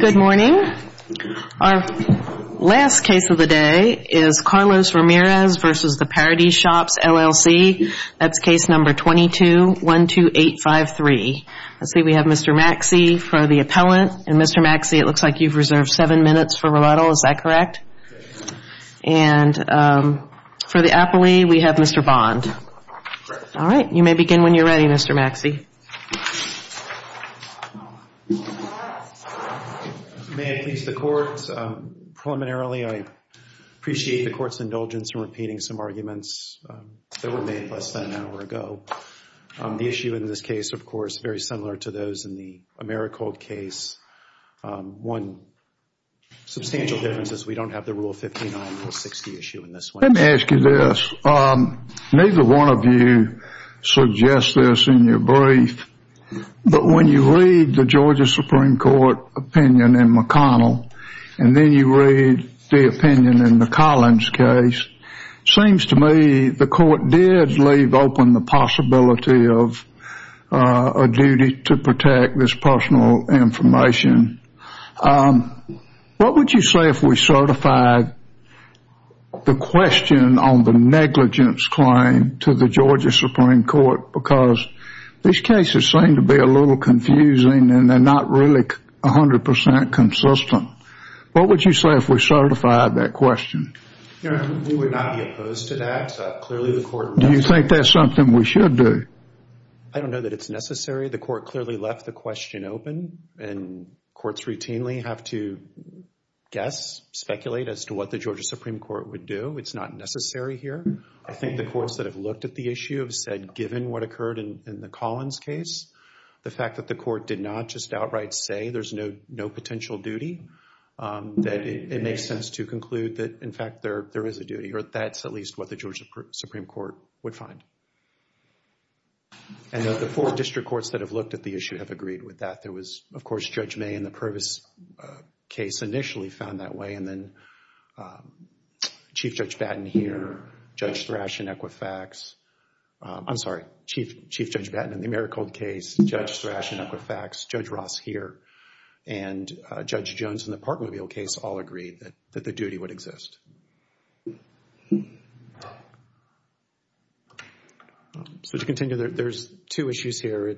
Good morning. Our last case of the day is Carlos Ramirez v. The Paradies Shops, LLC. That's case No. 22-12853. Let's see, we have Mr. Maxey for the appellant. And Mr. Maxey, it looks like you've reserved seven minutes for rebuttal. Is that correct? And for the appellee, we have Mr. Bond. All right. You may begin when you're ready, Mr. Maxey. May I please the court? Preliminarily, I appreciate the court's indulgence in repeating some arguments that were made less than an hour ago. The issue in this case, of course, is very similar to those in the Americold case. One substantial difference is we don't have the Rule 59, Rule 60 issue in this one. Let me ask you this. Neither one of you suggests this in your brief, but I'm going to ask you this. But when you read the Georgia Supreme Court opinion in McConnell, and then you read the opinion in the Collins case, seems to me the court did leave open the possibility of a duty to protect this personal information. What would you say if we certified the question on the negligence claim to the Georgia Supreme Court? Because these cases seem to be a little confusing, and they're not really 100 percent consistent. What would you say if we certified that question? We would not be opposed to that. Clearly, the court... Do you think that's something we should do? I don't know that it's necessary. The court clearly left the question open, and courts routinely have to guess, speculate as to what the Georgia Supreme Court would do. I don't know what occurred in the Collins case. The fact that the court did not just outright say there's no potential duty, that it makes sense to conclude that, in fact, there is a duty, or that's at least what the Georgia Supreme Court would find. And the four district courts that have looked at the issue have agreed with that. There was, of course, Judge May in the Purvis case initially found that way, and then Chief Judge Batten here, Judge Thrash in Equifax. I'm sorry, Chief Judge Batten in the Maricold case, Judge Thrash in Equifax, Judge Ross here, and Judge Jones in the Parkmobile case all agreed that the duty would exist. So to continue, there's two issues here.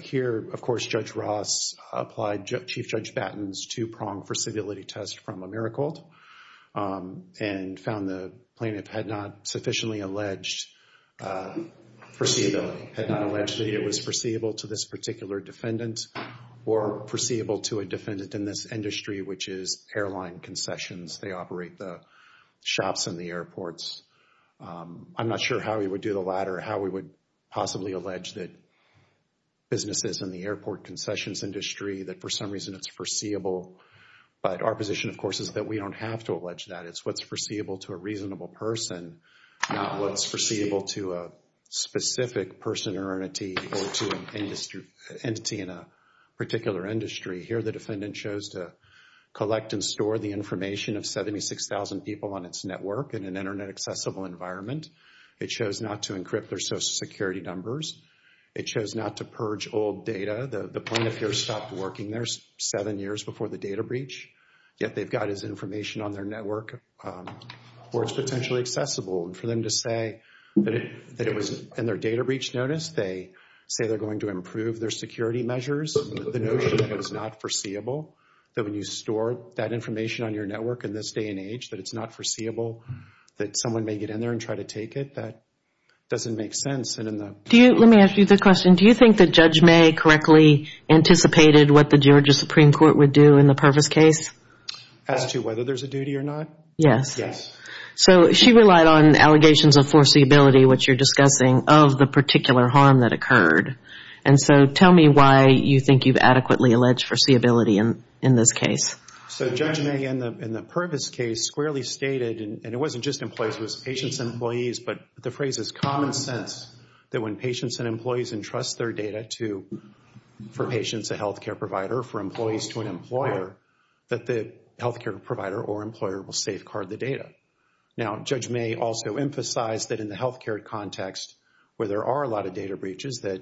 Here, of course, Judge Ross applied Chief Judge Batten's two-pronged versatility test from Maricold, and found the plaintiff had not sufficiently alleged foreseeability, had not alleged that it was foreseeable to this particular defendant, or foreseeable to a defendant in this industry, which is airline concessions. They operate the shops and the airports. I'm not sure how we would do the latter, how we would possibly allege that businesses in the airport concessions industry, that for some reason it's foreseeable, but our position, of course, is that we don't have to allege that. It's what's foreseeable to a reasonable person, not what's foreseeable to a specific person or entity, or to an entity in a particular industry. Here, the defendant chose to collect and store the information of 76,000 people on its network in an Internet-accessible environment. It chose not to encrypt their Social Security numbers. It chose not to purge old data. The plaintiff here stopped working there seven years before the data breach, yet they've got his information on their network where it's potentially accessible. And for them to say that it was in their data breach notice, they say they're going to improve their security measures. The notion that it's not foreseeable, that when you store that information on your network in this day and age, that it's not foreseeable, that someone may get in there and try to take it, that doesn't make sense. Let me ask you the question. Do you think that Judge May correctly anticipated what the Georgia Supreme Court would do in the Purvis case? As to whether there's a duty or not? Yes. So she relied on allegations of foreseeability, which you're discussing, of the particular harm that occurred. And so tell me why you think you've adequately alleged foreseeability in this case. So Judge May in the Purvis case squarely stated, and it wasn't just employees, it was patients and employees, but the phrase is common sense, that when patients and employees entrust their data to, for patients, a health care provider, for employees, to an employer, that the health care provider or employer will safeguard the data. Now, Judge May also emphasized that in the health care context, where there are a lot of data breaches, that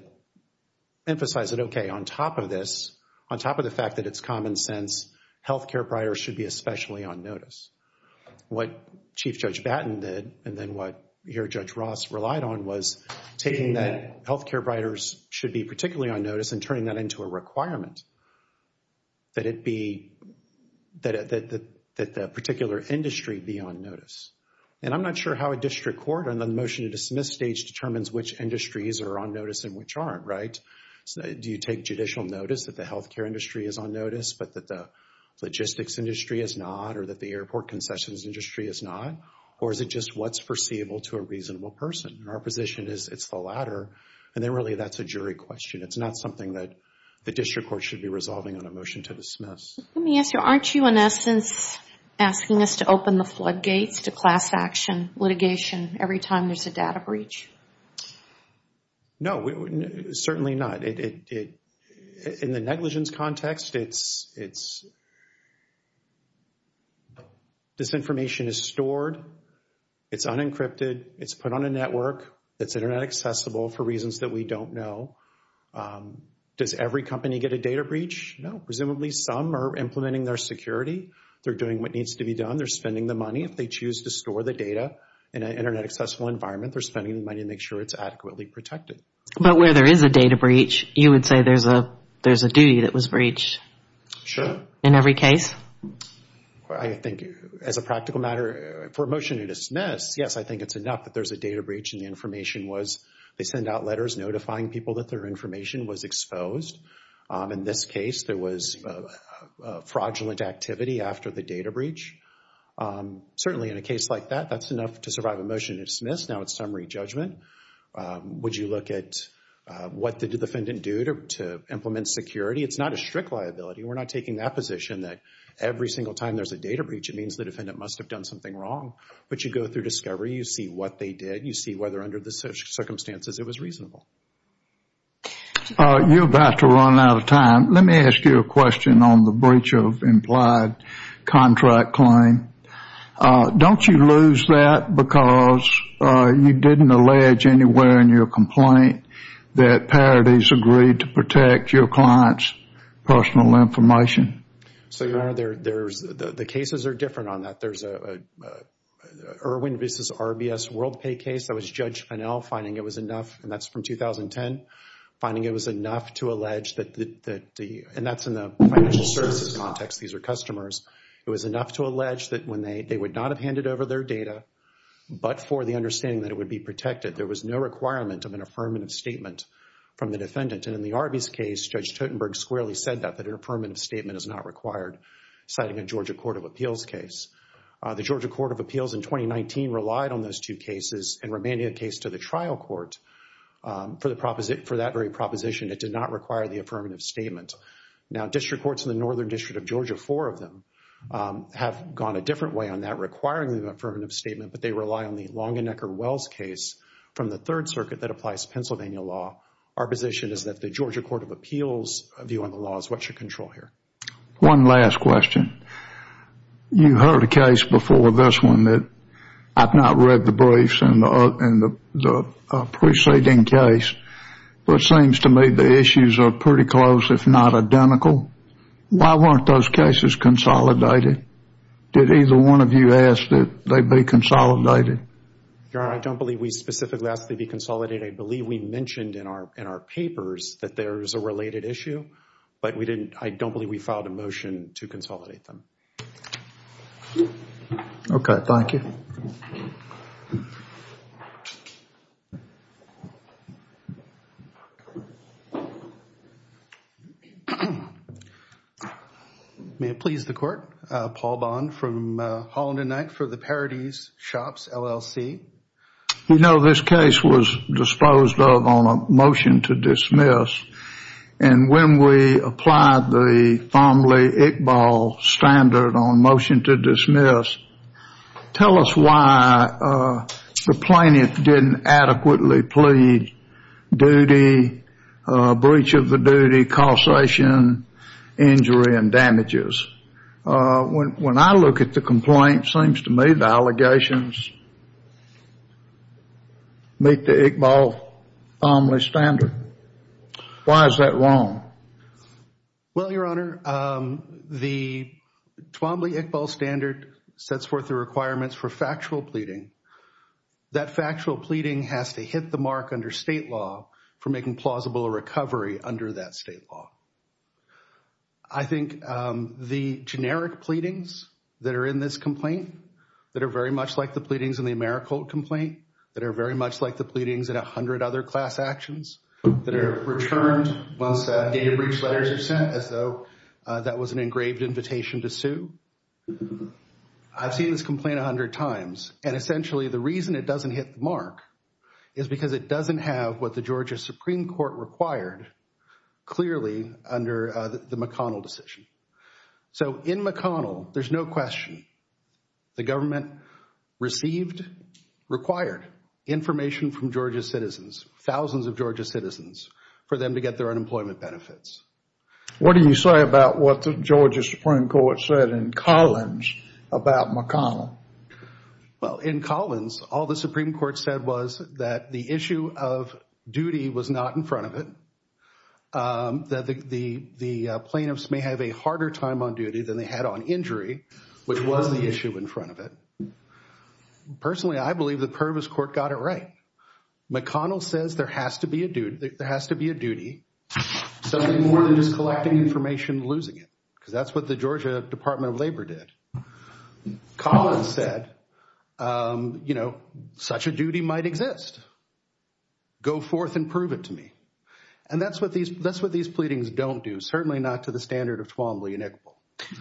emphasize that, okay, on top of this, on top of the fact that it's common sense, health care providers should be especially on notice. What Chief Judge Batten did, and then what your Judge Ross relied on, was taking that health care providers should be particularly on notice and turning that into a requirement. That it be, that the particular industry be on notice. And I'm not sure how a district court on the motion to dismiss stage determines which industries are on notice and which aren't, right? Do you take judicial notice that the health care industry is on notice, but that the logistics industry is not, or that the airport concessions industry is not? Or is it just what's foreseeable to a reasonable person? And our position is it's the latter, and then really that's a jury question. It's not something that the district court should be resolving on a motion to dismiss. Let me ask you, aren't you in essence asking us to open the floodgates to class action litigation every time there's a data breach? No, certainly not. In the negligence context, this information is stored, it's unencrypted, it's put on a network, it's internet accessible for reasons that we don't know. Does every company get a data breach? No. Presumably some are implementing their security, they're doing what needs to be done, they're spending the money. If they choose to store the data in an internet accessible environment, they're spending the money to make sure it's adequately protected. But where there is a data breach, you would say there's a duty that was breached in every case? I think as a practical matter, for a motion to dismiss, yes, I think it's enough that there's a data breach and the information was, they send out letters notifying people that their information was exposed. In this case, there was fraudulent activity after the data breach. Certainly in a case like that, that's enough to survive a motion to dismiss. Now it's summary judgment. Would you look at what the defendant do to implement security? It's not a strict liability. We're not taking that position that every single time there's a data breach, it means the defendant must have done something wrong. But you go through discovery, you see what they did, and you see whether under the circumstances it was reasonable. You're about to run out of time. Let me ask you a question on the breach of implied contract claim. Don't you lose that because you didn't allege anywhere in your complaint that parities agreed to protect your client's personal information? The cases are different on that. There's an Irwin v. RBS WorldPay case that was Judge Finnell finding it was enough, and that's from 2010, finding it was enough to allege that the, and that's in the financial services context. These are customers. It was enough to allege that when they, they would not have handed over their data, but for the understanding that it would be protected. There was no requirement of an affirmative statement from the defendant. And in the RBS case, Judge Totenberg squarely said that, an affirmative statement is not required, citing a Georgia Court of Appeals case. The Georgia Court of Appeals in 2019 relied on those two cases and remained in the case to the trial court for that very proposition. It did not require the affirmative statement. Now, district courts in the Northern District of Georgia, four of them, have gone a different way on that, requiring the affirmative statement, but they rely on the Longenecker-Wells case from the Third Circuit that applies Pennsylvania law. Our position is that the Georgia Court of Appeals' view on the law is what you control here. One last question. You heard a case before this one that I've not read the briefs in the preceding case, but it seems to me the issues are pretty close, if not identical. Why weren't those cases consolidated? Did either one of you ask that they be consolidated? Your Honor, I don't believe we specifically asked they be consolidated. I believe we mentioned in our papers that there is a related issue, but I don't believe we filed a motion to consolidate them. Okay. Thank you. May it please the Court. Paul Bond from Holland & Knight for the Parities Shops, LLC. We know this case was disposed of on a motion to dismiss, and when we applied the Farmley-Ickball standard on motion to dismiss, tell us why the plaintiff didn't adequately plead duty, breach of the duty, causation, injury, and damages. When I look at the complaint, it seems to me the allegations meet the Ickball-Farmley standard. Why is that wrong? Well, Your Honor, the Twombly-Ickball standard sets forth the requirements for factual pleading. That factual pleading has to hit the mark under state law for making plausible a recovery under that state law. I think the generic pleadings that are in this complaint, that are very much like the pleadings in the Americolt complaint, that are very much like the pleadings in a hundred other class actions that are returned once data breach letters are sent as though that was an engraved invitation to sue. I've seen this complaint a hundred times, and essentially the reason it doesn't hit the mark is because it doesn't have what the Georgia Supreme Court required clearly under the McConnell decision. So in McConnell, there's no question. The government received, required information from Georgia citizens, thousands of Georgia citizens, for them to get their unemployment benefits. What do you say about what the Georgia Supreme Court said in Collins about McConnell? Well, in Collins, all the Supreme Court said was that the issue of duty was not in front of it, that the plaintiffs may have a harder time on duty than they had on injury, which was the issue in front of it. Personally, I believe the Pervis court got it right. McConnell says there has to be a duty, something more than just collecting information and losing it, because that's what the Georgia Department of Labor did. Collins said, you know, such a duty might exist. Go forth and prove it to me. And that's what these pleadings don't do, certainly not to the standard of Twombly and Iqbal.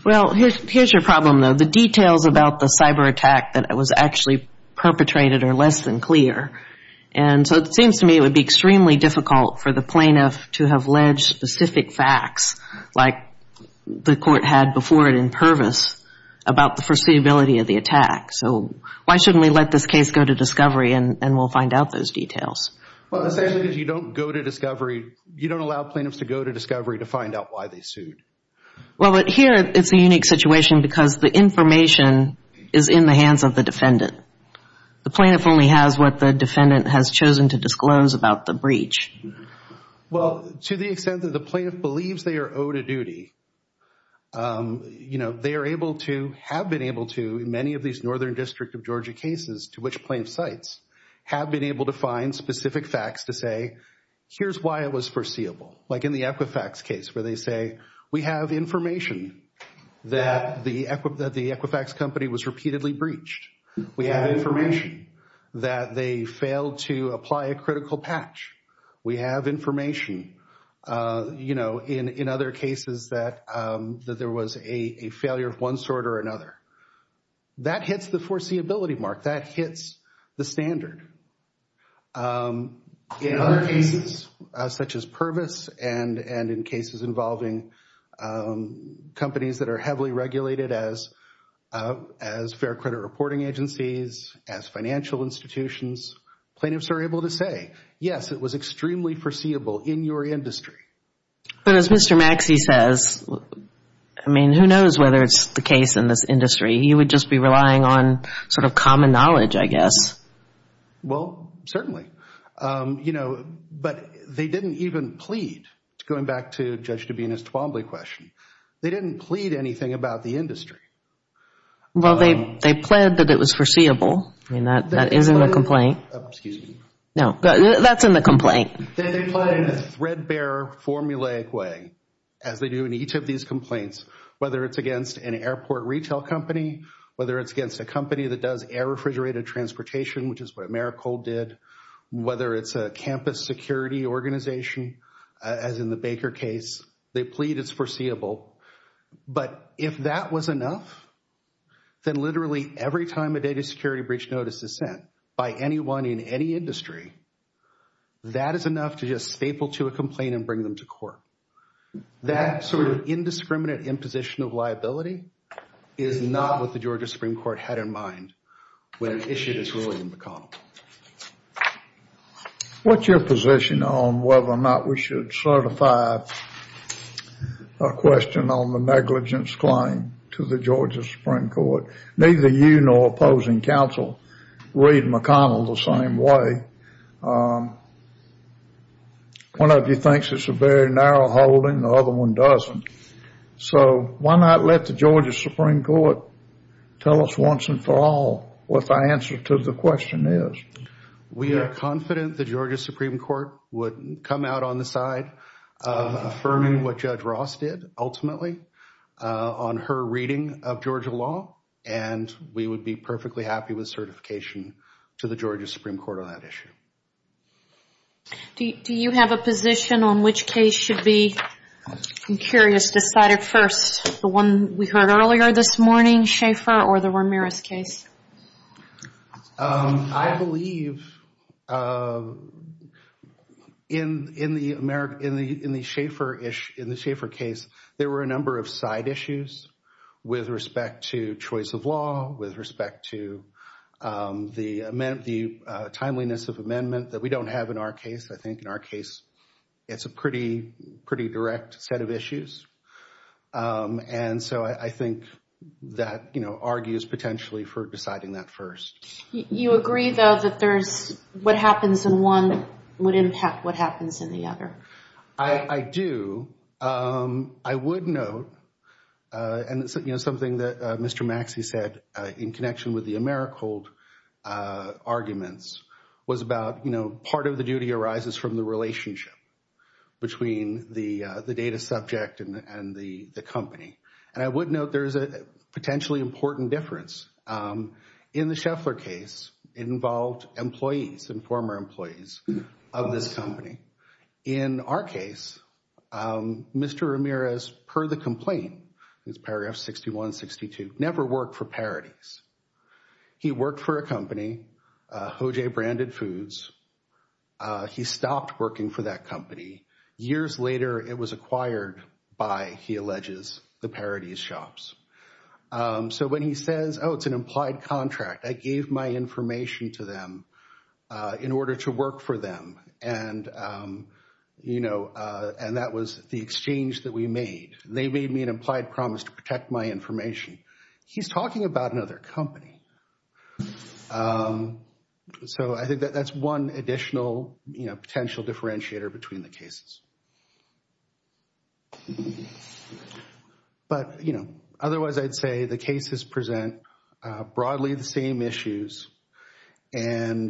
Well, here's your problem, though. The details about the cyber attack that was actually perpetrated are less than clear. And so it seems to me it would be extremely difficult for the plaintiff to have ledged specific facts like the court had before it in Pervis about the foreseeability of the attack. So why shouldn't we let this case go to discovery and we'll find out those details? Well, essentially, if you don't go to discovery, you don't allow plaintiffs to go to discovery to find out why they sued. Well, but here it's a unique situation because the information is in the hands of the defendant. The plaintiff only has what the defendant has chosen to disclose about the breach. Well, to the extent that the plaintiff believes they are owed a duty, you know, they are able to, have been able to, in many of these Northern District of Georgia cases to which plaintiffs cite, have been able to find specific facts to say, here's why it was foreseeable. Like in the Equifax case where they say, we have information that the Equifax company was repeatedly breached. We have information that they failed to apply a critical patch. We have information, you know, in other cases that there was a failure of one sort or another. That hits the foreseeability mark. That hits the standard. In other cases, such as Pervis and in cases involving companies that are heavily regulated as, as fair credit reporting agencies, as financial institutions, plaintiffs are able to say, yes, it was extremely foreseeable in your industry. But as Mr. Maxey says, I mean, who knows whether it's the case in this industry. He would just be relying on sort of common knowledge, I guess. Well, certainly. You know, but they didn't even plead. Going back to Judge Dabena's Twombly question, they didn't plead anything about the industry. Well, they pled that it was foreseeable. I mean, that is in the complaint. Excuse me. No, that's in the complaint. They pled in a threadbare, formulaic way, as they do in each of these complaints, whether it's against an airport retail company, whether it's against a company that does air-refrigerated transportation, which is what Maricol did, whether it's a campus security organization, as in the Baker case, they plead it's foreseeable. But if that was enough, then literally every time a data security breach notice is sent by anyone in any industry, that is enough to just staple to a complaint and bring them to court. That sort of indiscriminate imposition of liability is not what the Georgia Supreme Court had in mind What's your position on whether or not we should certify a question on the negligence claim to the Georgia Supreme Court? Neither you nor opposing counsel read McConnell the same way. One of you thinks it's a very narrow holding. The other one doesn't. So why not let the Georgia Supreme Court tell us once and for all what the answer to the question is? We are confident the Georgia Supreme Court would come out on the side of affirming what Judge Ross did, ultimately, on her reading of Georgia law, and we would be perfectly happy with certification to the Georgia Supreme Court on that issue. Do you have a position on which case should be, I'm curious, decided first? The one we heard earlier this morning, Schaefer or the Ramirez case? I believe in the Schaefer case, there were a number of side issues with respect to choice of law, with respect to the timeliness of amendment that we don't have in our case. I think in our case, it's a pretty direct set of issues, and so I think that argues potentially for deciding that first. You agree, though, that what happens in one would impact what happens in the other? I do. I would note, and it's something that Mr. Maxey said, in connection with the Americhold arguments, was about, you know, part of the duty arises from the relationship between the data subject and the company. And I would note there's a potentially important difference. In the Schaefer case, it involved employees and former employees of this company. In our case, Mr. Ramirez, per the complaint, it's paragraph 6162, never worked for Paradis. He worked for a company, Hojay Branded Foods. He stopped working for that company. Years later, it was acquired by, he alleges, the Paradis shops. So when he says, oh, it's an implied contract, I gave my information to them in order to work for them, and, you know, and that was the exchange that we made. They made me an implied promise to protect my information. He's talking about another company. So I think that's one additional, you know, potential differentiator between the cases. But, you know, otherwise I'd say the cases present broadly the same issues and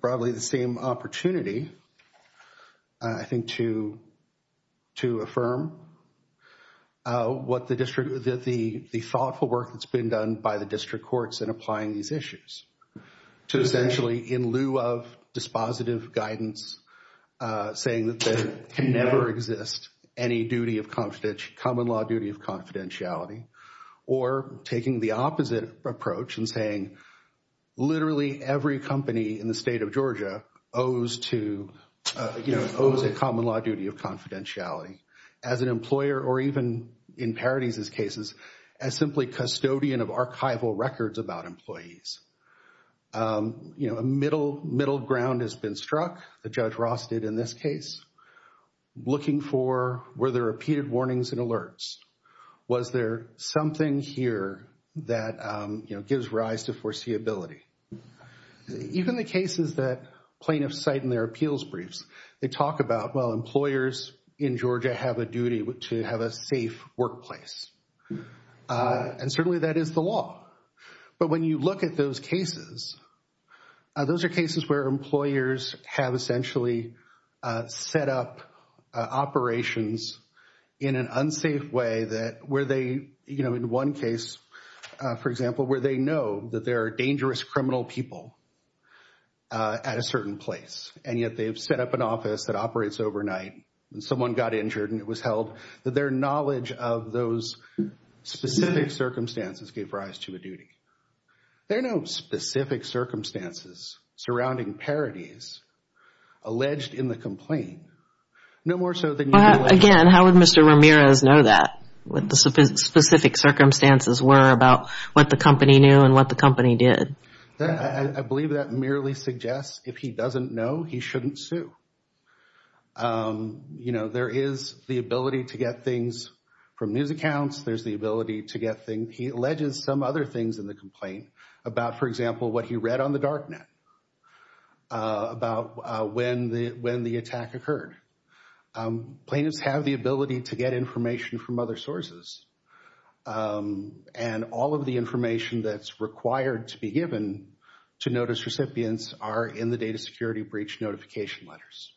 broadly the same opportunity, I think, to affirm what the district, the thoughtful work that's been done by the district courts in applying these issues to essentially, in lieu of dispositive guidance, saying that there can never exist any duty of common law duty of confidentiality or taking the opposite approach and saying literally every company in the state of Georgia owes to, you know, owes a common law duty of confidentiality as an employer or even, in Paradis' cases, as simply custodian of archival records about employees. You know, a middle ground has been struck, the Judge Ross did in this case, looking for, were there repeated warnings and alerts? Was there something here that, you know, gives rise to foreseeability? Even the cases that plaintiffs cite in their appeals briefs, they talk about, well, employers in Georgia have a duty to have a safe workplace. And certainly that is the law. But when you look at those cases, those are cases where employers have essentially set up operations in an unsafe way that where they, you know, in one case, for example, where they know that there are dangerous criminal people at a certain place. And yet they've set up an office that operates overnight and someone got injured and it was held that their knowledge of those specific circumstances gave rise to a duty. There are no specific circumstances surrounding Paradis alleged in the complaint, no more so than you can imagine. Again, how would Mr. Ramirez know that, what the specific circumstances were about what the company knew and what the company did? I believe that merely suggests if he doesn't know, he shouldn't sue. You know, there is the ability to get things from news accounts. There's the ability to get things. He alleges some other things in the complaint about, for example, what he read on the darknet about when the attack occurred. Plaintiffs have the ability to get information from other sources. And all of the information that's required to be given to notice recipients are in the data security breach notification letters.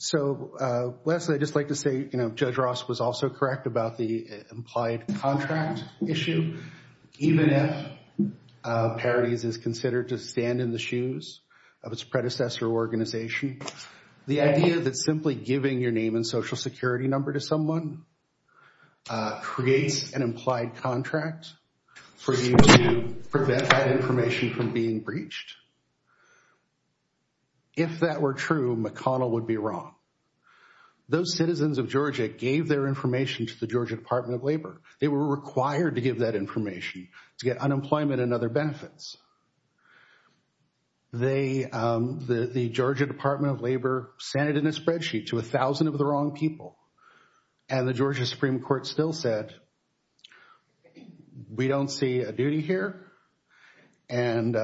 So, Leslie, I'd just like to say, you know, Judge Ross was also correct about the implied contract issue. Even if Paradis is considered to stand in the shoes of its predecessor organization, the idea that simply giving your name and social security number to someone creates an implied contract for you to prevent that information from being breached. If that were true, McConnell would be wrong. Those citizens of Georgia gave their information to the Georgia Department of Labor. They were required to give that information to get unemployment and other benefits. They, the Georgia Department of Labor, sent it in a spreadsheet to a thousand of the wrong people. And the Georgia Supreme Court still said, we don't see a duty here. And,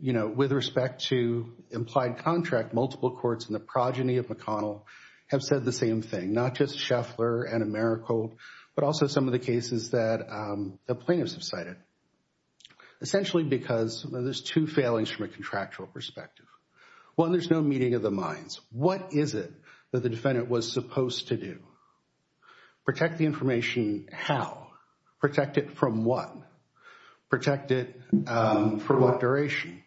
you know, with respect to implied contract, multiple courts in the progeny of McConnell have said the same thing. Not just Scheffler and Americold, but also some of the cases that the plaintiffs have cited. Essentially because there's two failings from a contractual perspective. One, there's no meeting of the minds. What is it that the defendant was supposed to do? Protect the information how? Protect it from what? Protect it for what duration?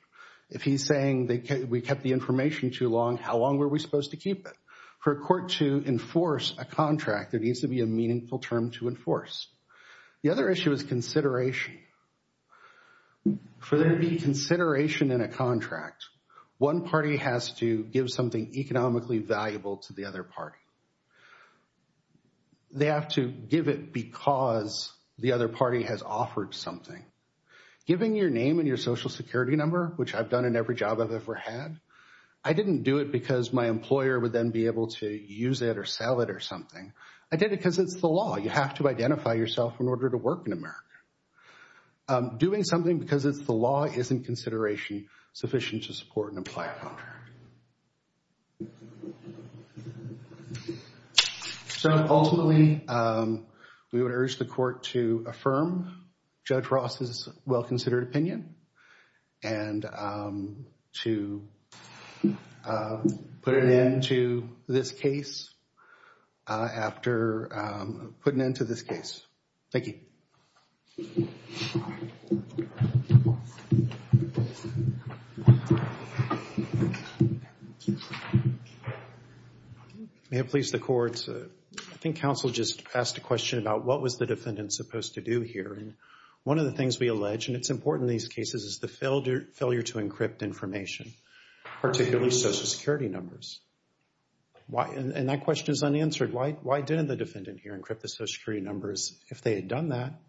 If he's saying we kept the information too long, how long were we supposed to keep it? For a court to enforce a contract, there needs to be a meaningful term to enforce. The other issue is consideration. For there to be consideration in a contract, one party has to give something economically valuable to the other party. They have to give it because the other party has offered something. Giving your name and your social security number, which I've done in every job I've ever had. I didn't do it because my employer would then be able to use it or sell it or something. I did it because it's the law. You have to identify yourself in order to work in America. Doing something because it's the law isn't consideration sufficient to support and apply a contract. So ultimately, we would urge the court to affirm Judge Ross's well-considered opinion and to put an end to this case after putting an end to this case. Thank you. Thank you. May it please the court. I think counsel just asked a question about what was the defendant supposed to do here. And one of the things we allege, and it's important in these cases, is the failure to encrypt information, particularly social security numbers. And that question is unanswered. Why didn't the defendant here encrypt the social security numbers if they had done that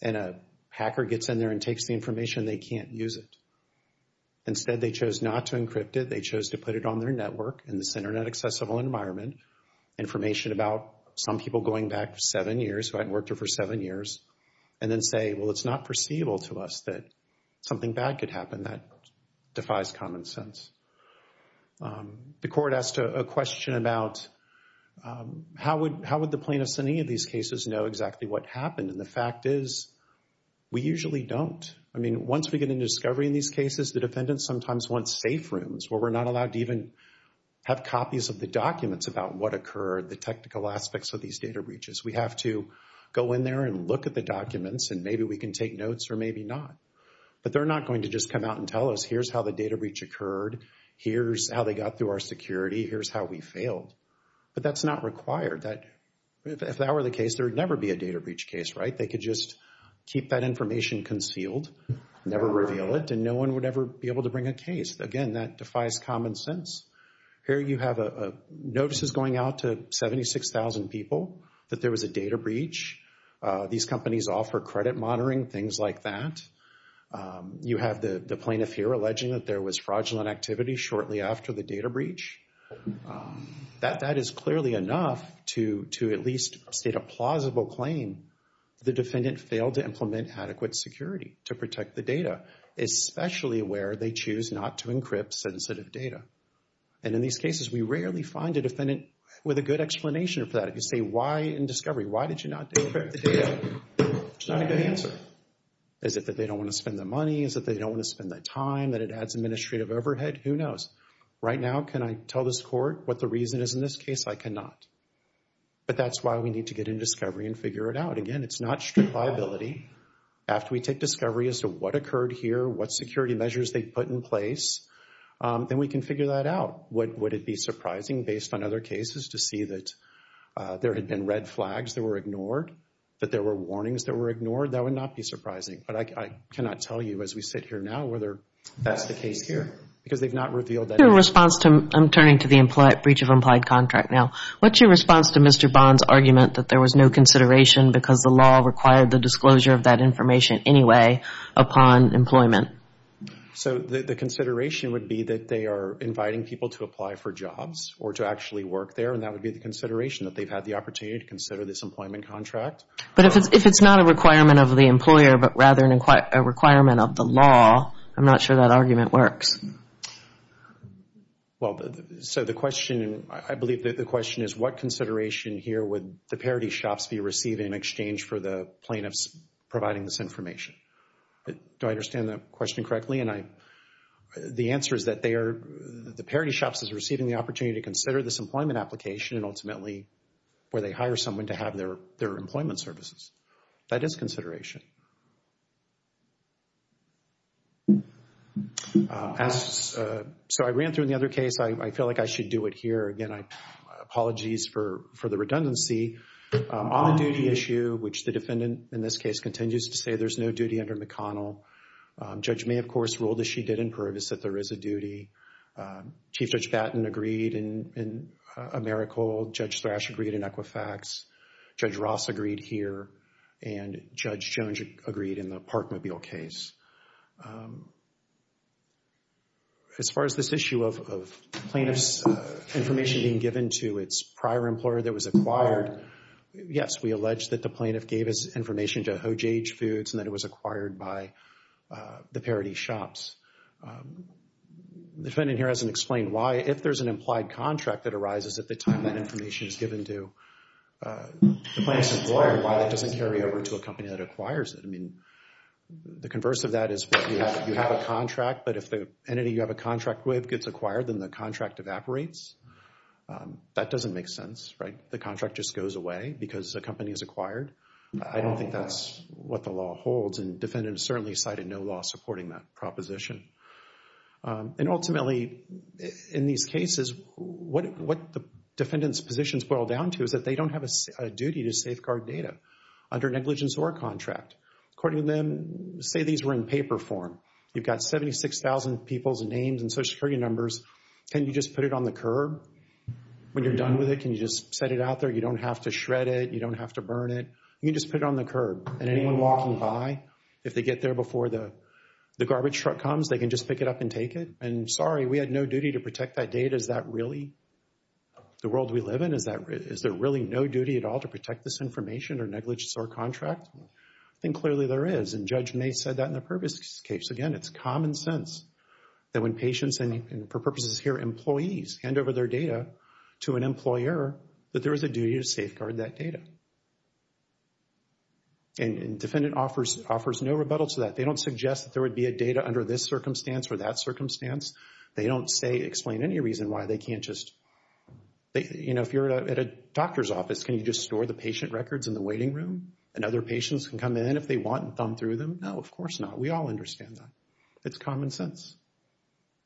and a hacker gets in there and takes the information and they can't use it? Instead, they chose not to encrypt it. They chose to put it on their network in this Internet-accessible environment, information about some people going back seven years who hadn't worked there for seven years, and then say, well, it's not foreseeable to us that something bad could happen. That defies common sense. The court asked a question about how would the plaintiffs in any of these cases know exactly what happened? And the answer is, we usually don't. I mean, once we get into discovery in these cases, the defendants sometimes want safe rooms where we're not allowed to even have copies of the documents about what occurred, the technical aspects of these data breaches. We have to go in there and look at the documents and maybe we can take notes or maybe not. But they're not going to just come out and tell us, here's how the data breach occurred, here's how they got through our security, here's how we failed. But that's not required. If that were the case, there would never be a data breach case, right? Keep that information concealed, never reveal it, and no one would ever be able to bring a case. Again, that defies common sense. Here you have notices going out to 76,000 people that there was a data breach. These companies offer credit monitoring, things like that. You have the plaintiff here alleging that there was fraudulent activity shortly after the data breach. That is clearly enough to at least state a plausible claim. The defendant failed to implement adequate security to protect the data, especially where they choose not to encrypt sensitive data. And in these cases, we rarely find a defendant with a good explanation for that. If you say, why in discovery? Why did you not encrypt the data? It's not a good answer. Is it that they don't want to spend the money? Is it that they don't want to spend the time? That it adds administrative overhead? Who knows? Right now, can I tell this court what the reason is in this case? I cannot. But that's why we need to get in discovery and figure it out. Again, it's not strict liability. After we take discovery as to what occurred here, what security measures they put in place, then we can figure that out. Would it be surprising based on other cases to see that there had been red flags that were ignored, that there were warnings that were ignored? That would not be surprising. But I cannot tell you as we sit here now whether that's the case here because they've not revealed that. What's your response to, I'm turning to the breach of implied contract now, what's your response to Mr. Bond's argument that there was no consideration because the law required the disclosure of that information anyway upon employment? So the consideration would be that they are inviting people to apply for jobs or to actually work there, and that would be the consideration that they've had the opportunity to consider this employment contract. But if it's not a requirement of the employer but rather a requirement of the law, I'm not sure that argument works. Well, so the question, I believe that the question is what consideration here would the Parity Shops be receiving in exchange for the plaintiffs providing this information? Do I understand the question correctly? And the answer is that they are, the Parity Shops is receiving the opportunity to consider this employment application and ultimately where they hire someone to have their employment services. That is consideration. So I ran through the other case. I feel like I should do it here. Again, apologies for the redundancy. On the duty issue, which the defendant in this case continues to say there's no duty under McConnell. Judge May, of course, ruled as she did in Pervis that there is a duty. Chief Judge Batten agreed in AmeriCorps. Judge Thrash agreed in Equifax. Judge Ross agreed here. And Judge Jones, of course, agreed in the Parkmobile case. As far as this issue of plaintiffs' information being given to its prior employer that was acquired, yes, we allege that the plaintiff gave us information to Hojage Foods and that it was acquired by the Parity Shops. The defendant here hasn't explained why. If there's an implied contract that arises at the time that information is given to the plaintiff's employer, why that doesn't carry over to the company that acquires it. I mean, the converse of that is you have a contract, but if the entity you have a contract with gets acquired, then the contract evaporates. That doesn't make sense, right? The contract just goes away because the company is acquired. I don't think that's what the law holds, and defendants certainly cited no law supporting that proposition. And ultimately, in these cases, what the defendant's positions boil down to is that they don't have a duty to safeguard data under negligence or contract. According to them, say these were in paper form. You've got 76,000 people's names and Social Security numbers. Can you just put it on the curb when you're done with it? Can you just set it out there? You don't have to shred it. You don't have to burn it. You can just put it on the curb, and anyone walking by, if they get there before the garbage truck comes, they can just pick it up and take it. And sorry, we had no duty to protect that data. Can you just protect this information under negligence or contract? I think clearly there is, and Judge May said that in the previous case. Again, it's common sense that when patients and, for purposes here, employees hand over their data to an employer, that there is a duty to safeguard that data. And defendant offers no rebuttal to that. They don't suggest that there would be a data under this circumstance or that circumstance. They don't say, explain any reason why they can't just, you know, if you're at a doctor's office, do you have patient records in the waiting room? And other patients can come in if they want and thumb through them? No, of course not. We all understand that. It's common sense.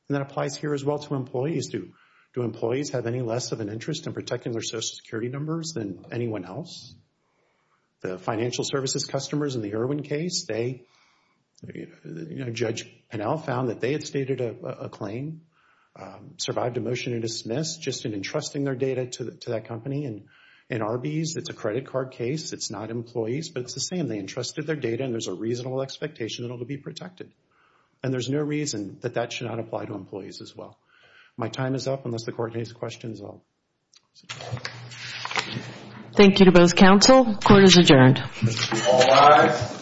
And that applies here as well to employees. Do employees have any less of an interest in protecting their Social Security numbers than anyone else? The financial services customers in the Irwin case, they, you know, Judge Pinnell found that they had stated a claim, survived a motion to dismiss just in entrusting their data to that company. And in Arby's, it's a credit card case. It's not employees, but it's the same. They entrusted their data and there's a reasonable expectation that it will be protected. And there's no reason that that should not apply to employees as well. My time is up. Unless the court has questions, I'll... Thank you to both counsel. Court is adjourned. All rise.